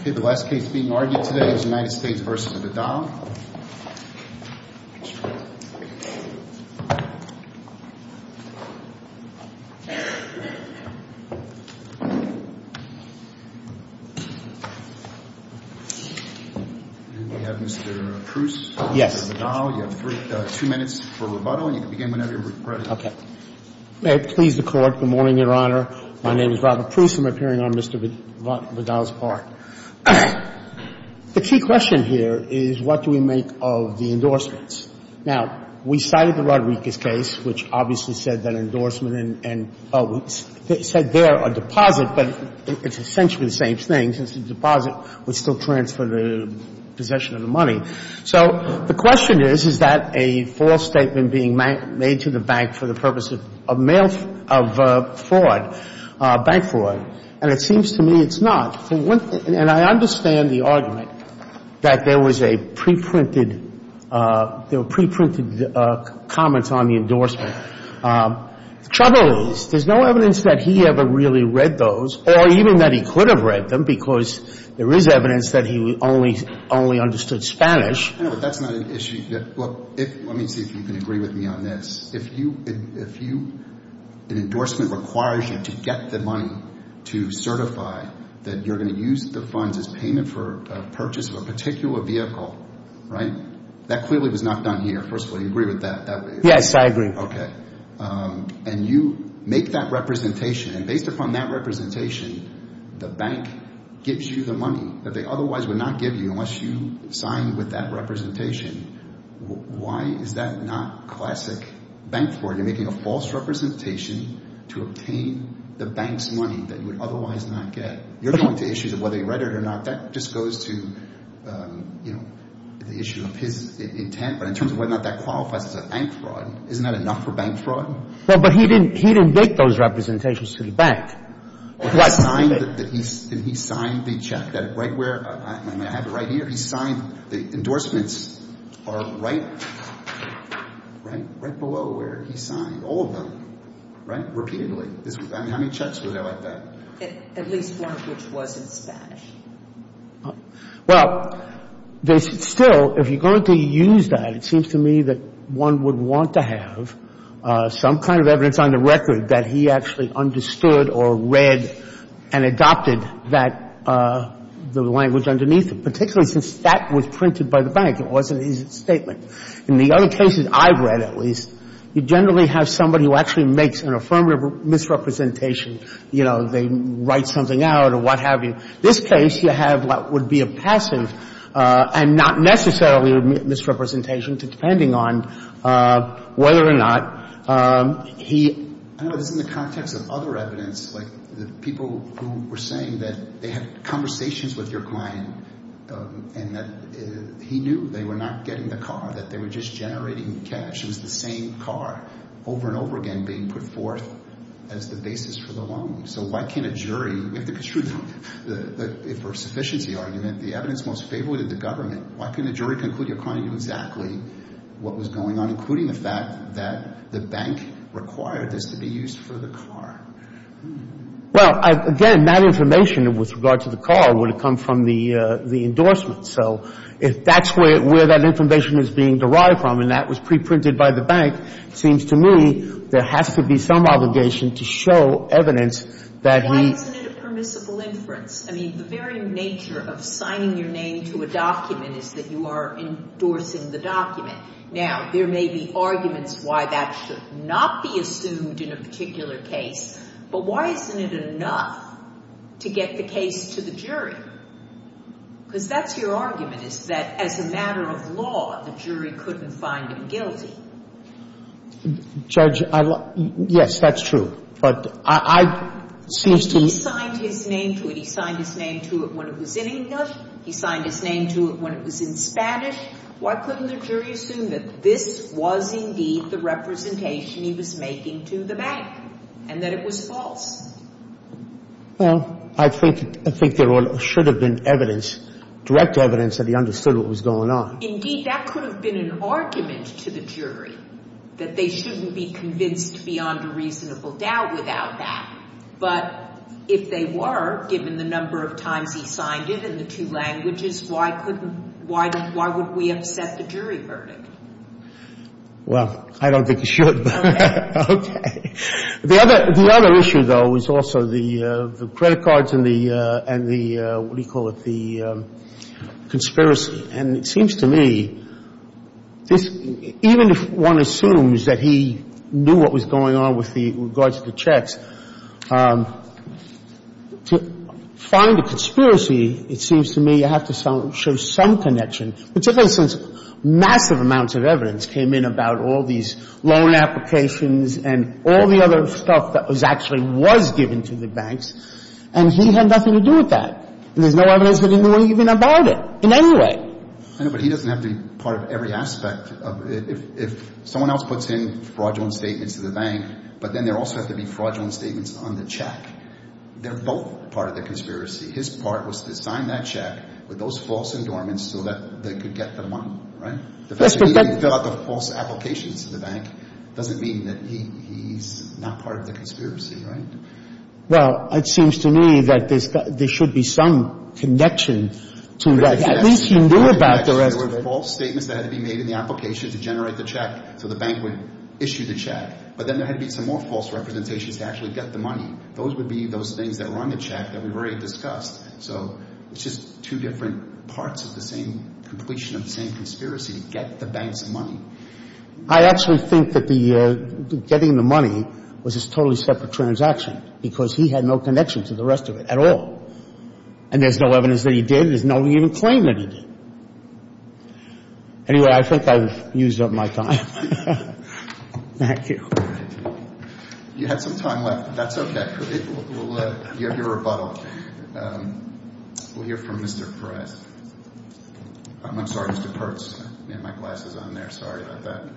Okay, the last case being argued today is United States v. Vidal. And we have Mr. Proust, Mr. Vidal. You have two minutes for rebuttal, and you can begin whenever you're ready. Okay. May it please the Court, good morning, Your Honor. My name is Robert Proust. I'm appearing on Mr. Vidal's part. The key question here is what do we make of the endorsements? Now, we cited the Rodriguez case, which obviously said that endorsement and – oh, it said there a deposit, but it's essentially the same thing, since the deposit would still transfer the possession of the money. So the question is, is that a false statement being made to the bank for the purpose of mail – of fraud, bank fraud? And it seems to me it's not. And I understand the argument that there was a preprinted – there were preprinted comments on the endorsement. The trouble is there's no evidence that he ever really read those or even that he could have read them because there is evidence that he only understood Spanish. I know, but that's not an issue. Look, let me see if you can agree with me on this. If you – an endorsement requires you to get the money to certify that you're going to use the funds as payment for a purchase of a particular vehicle, right, that clearly was not done here, first of all. Do you agree with that? Yes, I agree. Okay. And you make that representation. And based upon that representation, the bank gives you the money that they otherwise would not give you unless you signed with that representation. Why is that not classic bank fraud? You're making a false representation to obtain the bank's money that you would otherwise not get. You're going to issues of whether he read it or not. That just goes to the issue of his intent. But in terms of whether or not that qualifies as a bank fraud, isn't that enough for bank fraud? Well, but he didn't make those representations to the bank. He signed the check that right where – I mean, I have it right here. He signed the endorsements are right below where he signed, all of them, right, repeatedly. I mean, how many checks were there like that? At least one which wasn't Spanish. Well, still, if you're going to use that, it seems to me that one would want to have some kind of evidence on the record that he actually understood or read and adopted that – the language underneath it, particularly since that was printed by the bank. It wasn't his statement. In the other cases I've read, at least, you generally have somebody who actually makes an affirmative misrepresentation. You know, they write something out or what have you. In this case, you have what would be a passive and not necessarily a misrepresentation depending on whether or not he – I don't know. This is in the context of other evidence. Like the people who were saying that they had conversations with your client and that he knew they were not getting the car, that they were just generating cash. It was the same car over and over again being put forth as the basis for the loan. So why can't a jury – we have to construe the – for a sufficiency argument, the evidence most favorable to the government. Why can't a jury conclude your client knew exactly what was going on, including the fact that the bank required this to be used for the car? Well, again, that information with regard to the car would have come from the endorsement. So if that's where that information is being derived from and that was preprinted by the bank, it seems to me there has to be some obligation to show evidence that he – Why isn't it a permissible inference? I mean, the very nature of signing your name to a document is that you are endorsing the document. Now, there may be arguments why that should not be assumed in a particular case, but why isn't it enough to get the case to the jury? Because that's your argument, is that as a matter of law, the jury couldn't find him guilty. Judge, I – yes, that's true. But I – seems to me – He signed his name to it. He signed his name to it when it was in English. He signed his name to it when it was in Spanish. Why couldn't the jury assume that this was indeed the representation he was making to the bank and that it was false? Well, I think there should have been evidence, direct evidence that he understood what was going on. Indeed, that could have been an argument to the jury, that they shouldn't be convinced beyond a reasonable doubt without that. But if they were, given the number of times he signed it in the two languages, why couldn't – why would we upset the jury verdict? Well, I don't think you should. Okay. The other issue, though, is also the credit cards and the – and the – what do you call it? The conspiracy. And it seems to me this – even if one assumes that he knew what was going on with the – in regards to the checks, to find a conspiracy, it seems to me you have to show some connection, particularly since massive amounts of evidence came in about all these loan applications and all the other stuff that was actually – was given to the banks. And he had nothing to do with that. And there's no evidence that he knew even about it in any way. I know, but he doesn't have to be part of every aspect of – if someone else puts in fraudulent statements to the bank, but then there also have to be fraudulent statements on the check. They're both part of the conspiracy. His part was to sign that check with those false endorsements so that they could get the money, right? If he can fill out the false applications to the bank, it doesn't mean that he's not part of the conspiracy, right? Well, it seems to me that there should be some connection to that. At least he knew about the record. There were false statements that had to be made in the application to generate the check so the bank would issue the check. Those would be those things that were on the check that we've already discussed. So it's just two different parts of the same completion of the same conspiracy to get the banks money. I actually think that the – getting the money was a totally separate transaction because he had no connection to the rest of it at all. And there's no evidence that he did. There's no even claim that he did. Anyway, I think I've used up my time. Thank you. You had some time left. That's okay. We'll let you have your rebuttal. We'll hear from Mr. Perez. I'm sorry, Mr. Pertz. I had my glasses on there. Sorry about that.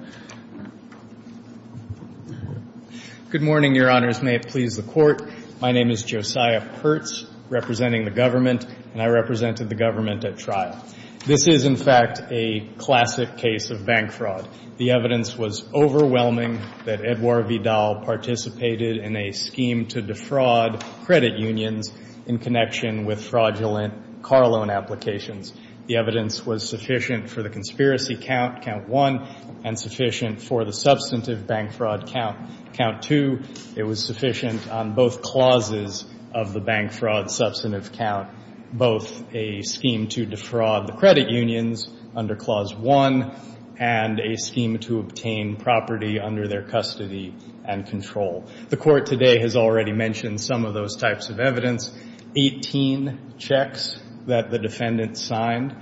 Good morning, Your Honors. May it please the Court. My name is Josiah Pertz, representing the government, and I represented the government at trial. This is, in fact, a classic case of bank fraud. The evidence was overwhelming that Edouard Vidal participated in a scheme to defraud credit unions in connection with fraudulent car loan applications. The evidence was sufficient for the conspiracy count, count one, and sufficient for the substantive bank fraud count, count two. It was sufficient on both clauses of the bank fraud substantive count, both a scheme to defraud the credit unions under clause one and a scheme to obtain property under their custody and control. The Court today has already mentioned some of those types of evidence, 18 checks that the defendant signed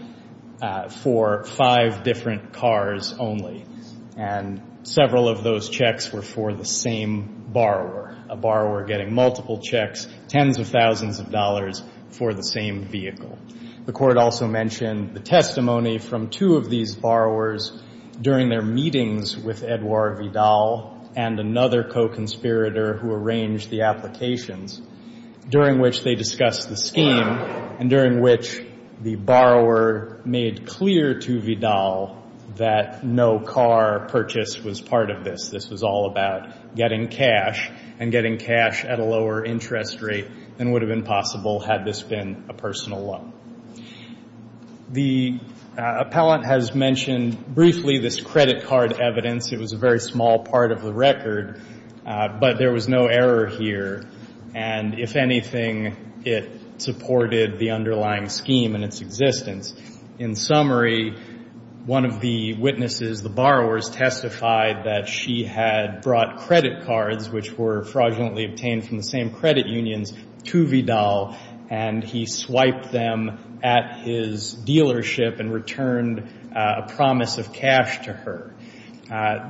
for five different cars only, and several of those checks were for the same borrower, a borrower getting multiple checks, tens of thousands of dollars for the same vehicle. The Court also mentioned the testimony from two of these borrowers during their meetings with Edouard Vidal and another co-conspirator who arranged the applications, during which they discussed the scheme and during which the borrower made clear to Vidal that no car purchase was part of this. This was all about getting cash and getting cash at a lower interest rate than would have been possible had this been a personal loan. The appellant has mentioned briefly this credit card evidence. It was a very small part of the record, but there was no error here, and if anything, it supported the underlying scheme and its existence. In summary, one of the witnesses, the borrowers, testified that she had brought credit cards, which were fraudulently obtained from the same credit unions, to Vidal, and he swiped them at his dealership and returned a promise of cash to her.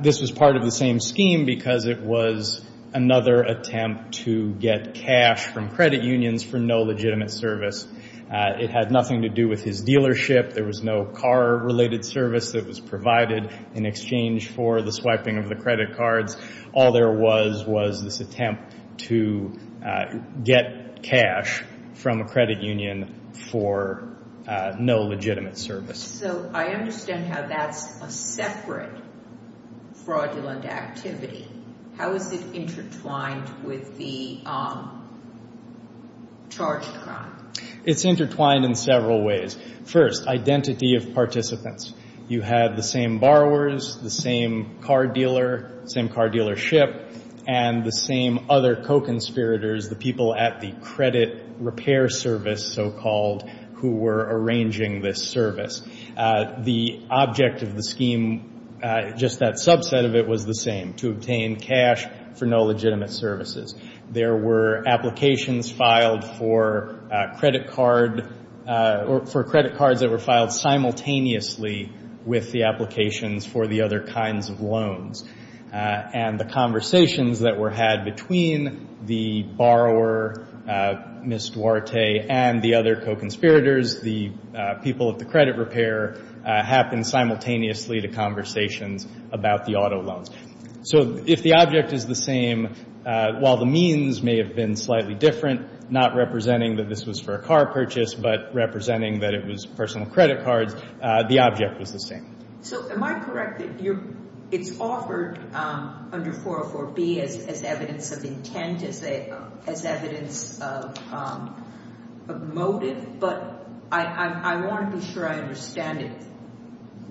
This was part of the same scheme because it was another attempt to get cash from credit unions for no legitimate service. It had nothing to do with his dealership. There was no car-related service that was provided in exchange for the swiping of the credit cards. All there was was this attempt to get cash from a credit union for no legitimate service. So I understand how that's a separate fraudulent activity. How is it intertwined with the charged crime? It's intertwined in several ways. First, identity of participants. You had the same borrowers, the same car dealer, same car dealership, and the same other co-conspirators, the people at the credit repair service, so-called, who were arranging this service. The object of the scheme, just that subset of it, was the same, to obtain cash for no legitimate services. There were applications filed for credit cards that were filed simultaneously with the applications for the other kinds of loans. And the conversations that were had between the borrower, Ms. Duarte, and the other co-conspirators, the people at the credit repair, happened simultaneously to conversations about the auto loans. So if the object is the same, while the means may have been slightly different, not representing that this was for a car purchase, but representing that it was personal credit cards, the object was the same. So am I correct that it's offered under 404B as evidence of intent, as evidence of motive, but I want to be sure I understand it.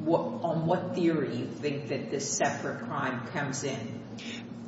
On what theory do you think that this separate crime comes in?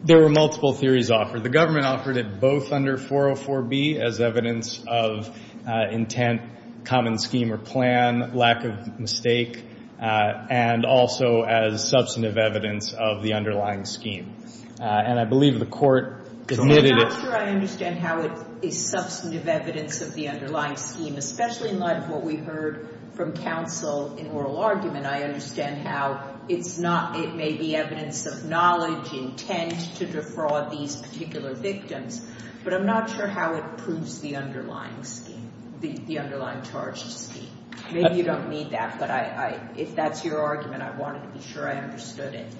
There were multiple theories offered. The government offered it both under 404B as evidence of intent, common scheme or plan, lack of mistake, and also as substantive evidence of the underlying scheme. And I believe the court admitted it. I'm not sure I understand how it is substantive evidence of the underlying scheme, especially in light of what we heard from counsel in oral argument. I understand how it may be evidence of knowledge, intent to defraud these particular victims, but I'm not sure how it proves the underlying scheme, the underlying charged scheme. Maybe you don't need that, but if that's your argument, I wanted to be sure I understood it.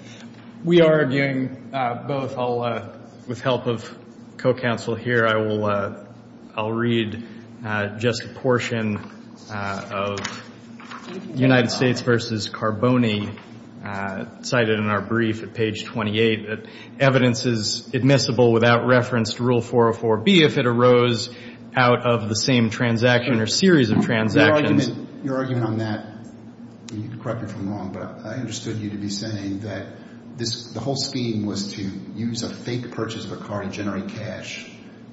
We are arguing both. With help of co-counsel here, I'll read just a portion of United States v. Carboni cited in our brief at page 28. Evidence is admissible without reference to Rule 404B if it arose out of the same transaction or series of transactions. Your argument on that, and you can correct me if I'm wrong, but I understood you to be saying that the whole scheme was to use a fake purchase of a car to generate cash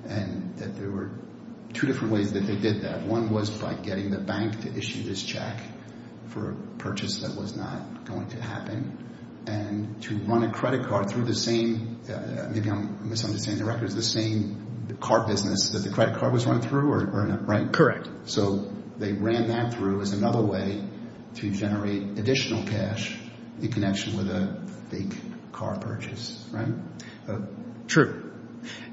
and that there were two different ways that they did that. One was by getting the bank to issue this check for a purchase that was not going to happen and to run a credit card through the same, maybe I'm misunderstanding the records, the same car business that the credit card was run through, right? Correct. So they ran that through as another way to generate additional cash in connection with a fake car purchase, right? True.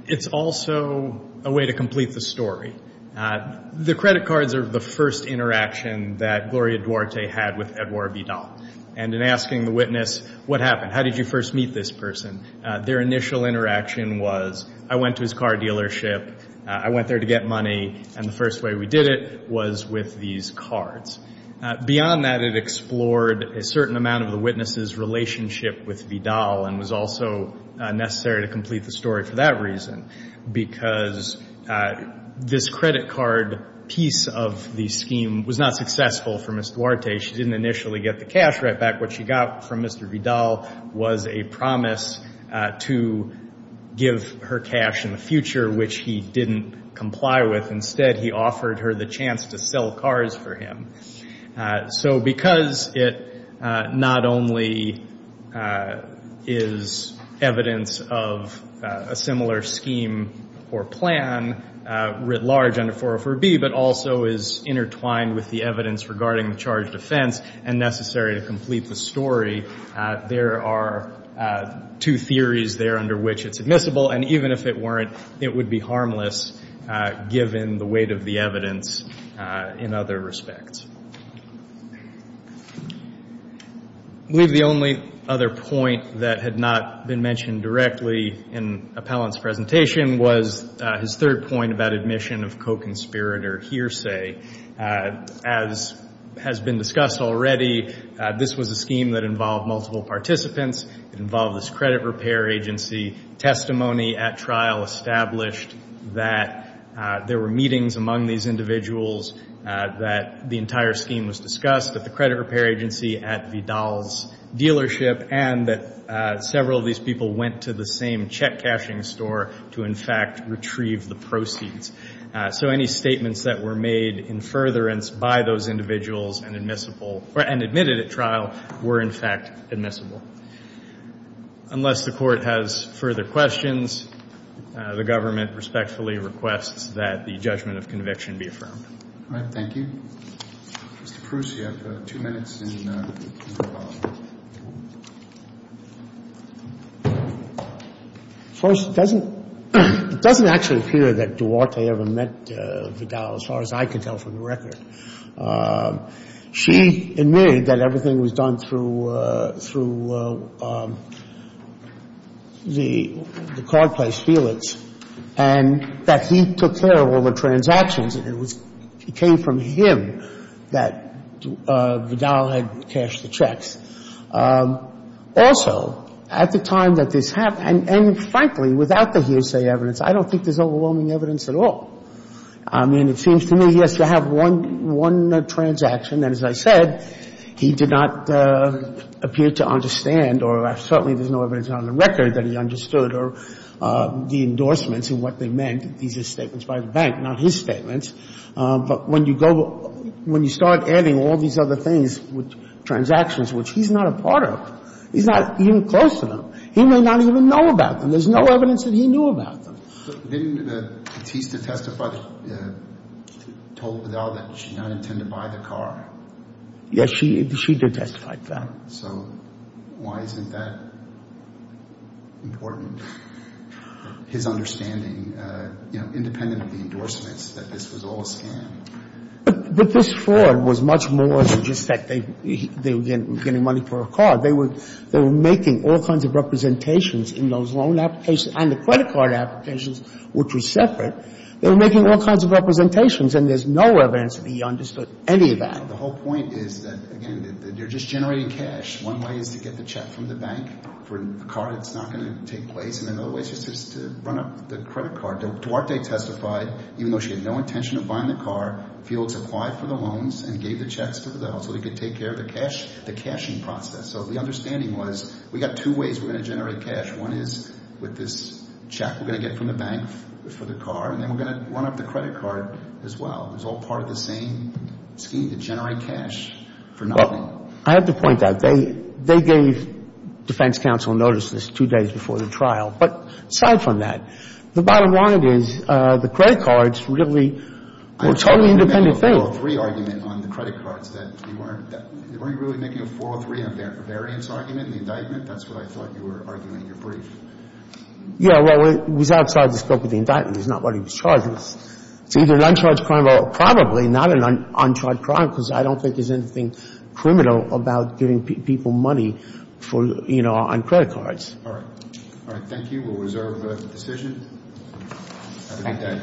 It's also a way to complete the story. The credit cards are the first interaction that Gloria Duarte had with Edouard Vidal. And in asking the witness, what happened, how did you first meet this person, their initial interaction was, I went to his car dealership, I went there to get money, and the first way we did it was with these cards. Beyond that, it explored a certain amount of the witness's relationship with Vidal and was also necessary to complete the story for that reason, because this credit card piece of the scheme was not successful for Ms. Duarte. She didn't initially get the cash right back. What she got from Mr. Vidal was a promise to give her cash in the future, which he didn't comply with. Instead, he offered her the chance to sell cars for him. So because it not only is evidence of a similar scheme or plan writ large under 404B but also is intertwined with the evidence regarding the charge of offense and necessary to complete the story, there are two theories there under which it's admissible, and even if it weren't, it would be harmless given the weight of the evidence in other respects. I believe the only other point that had not been mentioned directly in Appellant's presentation was his third point about admission of co-conspirator hearsay. As has been discussed already, this was a scheme that involved multiple participants, involved this credit repair agency. Testimony at trial established that there were meetings among these individuals, that the entire scheme was discussed at the credit repair agency, at Vidal's dealership, and that several of these people went to the same check cashing store to, in fact, retrieve the proceeds. So any statements that were made in furtherance by those individuals and admissible or admitted at trial were, in fact, admissible. Unless the Court has further questions, the government respectfully requests that the judgment of conviction be affirmed. All right. Thank you. Mr. Proust, you have two minutes. First, it doesn't actually appear that Duarte ever met Vidal, as far as I can tell from the record. She admitted that everything was done through the card place, Felix, and that he took care of all the transactions, and it came from him that Vidal had cashed the checks. Also, at the time that this happened, and frankly, without the hearsay evidence, I don't think there's overwhelming evidence at all. I mean, it seems to me, yes, you have one transaction, and as I said, he did not appear to understand or certainly there's no evidence on the record that he understood the endorsements and what they meant. These are statements by the bank, not his statements. But when you go – when you start adding all these other things, transactions, which he's not a part of, he's not even close to them, he may not even know about them. There's no evidence that he knew about them. Didn't Batista testify that – told Vidal that she did not intend to buy the car? Yes, she did testify to that. So why isn't that important? His understanding, you know, independent of the endorsements, that this was all a scam. But this fraud was much more than just that they were getting money for a car. They were – they were making all kinds of representations in those loan applications and the credit card applications, which were separate. They were making all kinds of representations, and there's no evidence that he understood any of that. The whole point is that, again, they're just generating cash. One way is to get the check from the bank for a car that's not going to take place, and another way is just to run up the credit card. Duarte testified, even though she had no intention of buying the car, Fields applied for the loans and gave the checks to Vidal so he could take care of the cash – the cashing process. So the understanding was we got two ways we're going to generate cash. One is with this check we're going to get from the bank for the car, and then we're going to run up the credit card as well. It was all part of the same scheme to generate cash for nothing. Well, I have to point out, they gave defense counsel notice this two days before the trial. But aside from that, the bottom line is the credit cards really were a totally independent thing. They weren't really making a four or three on the variance argument in the indictment? That's what I thought you were arguing in your brief. Yeah, well, it was outside the scope of the indictment. It's not what he was charged with. It's either an uncharged crime or probably not an uncharged crime because I don't think there's anything criminal about giving people money on credit cards. All right. All right. Thank you. We'll reserve the decision. Have a good day.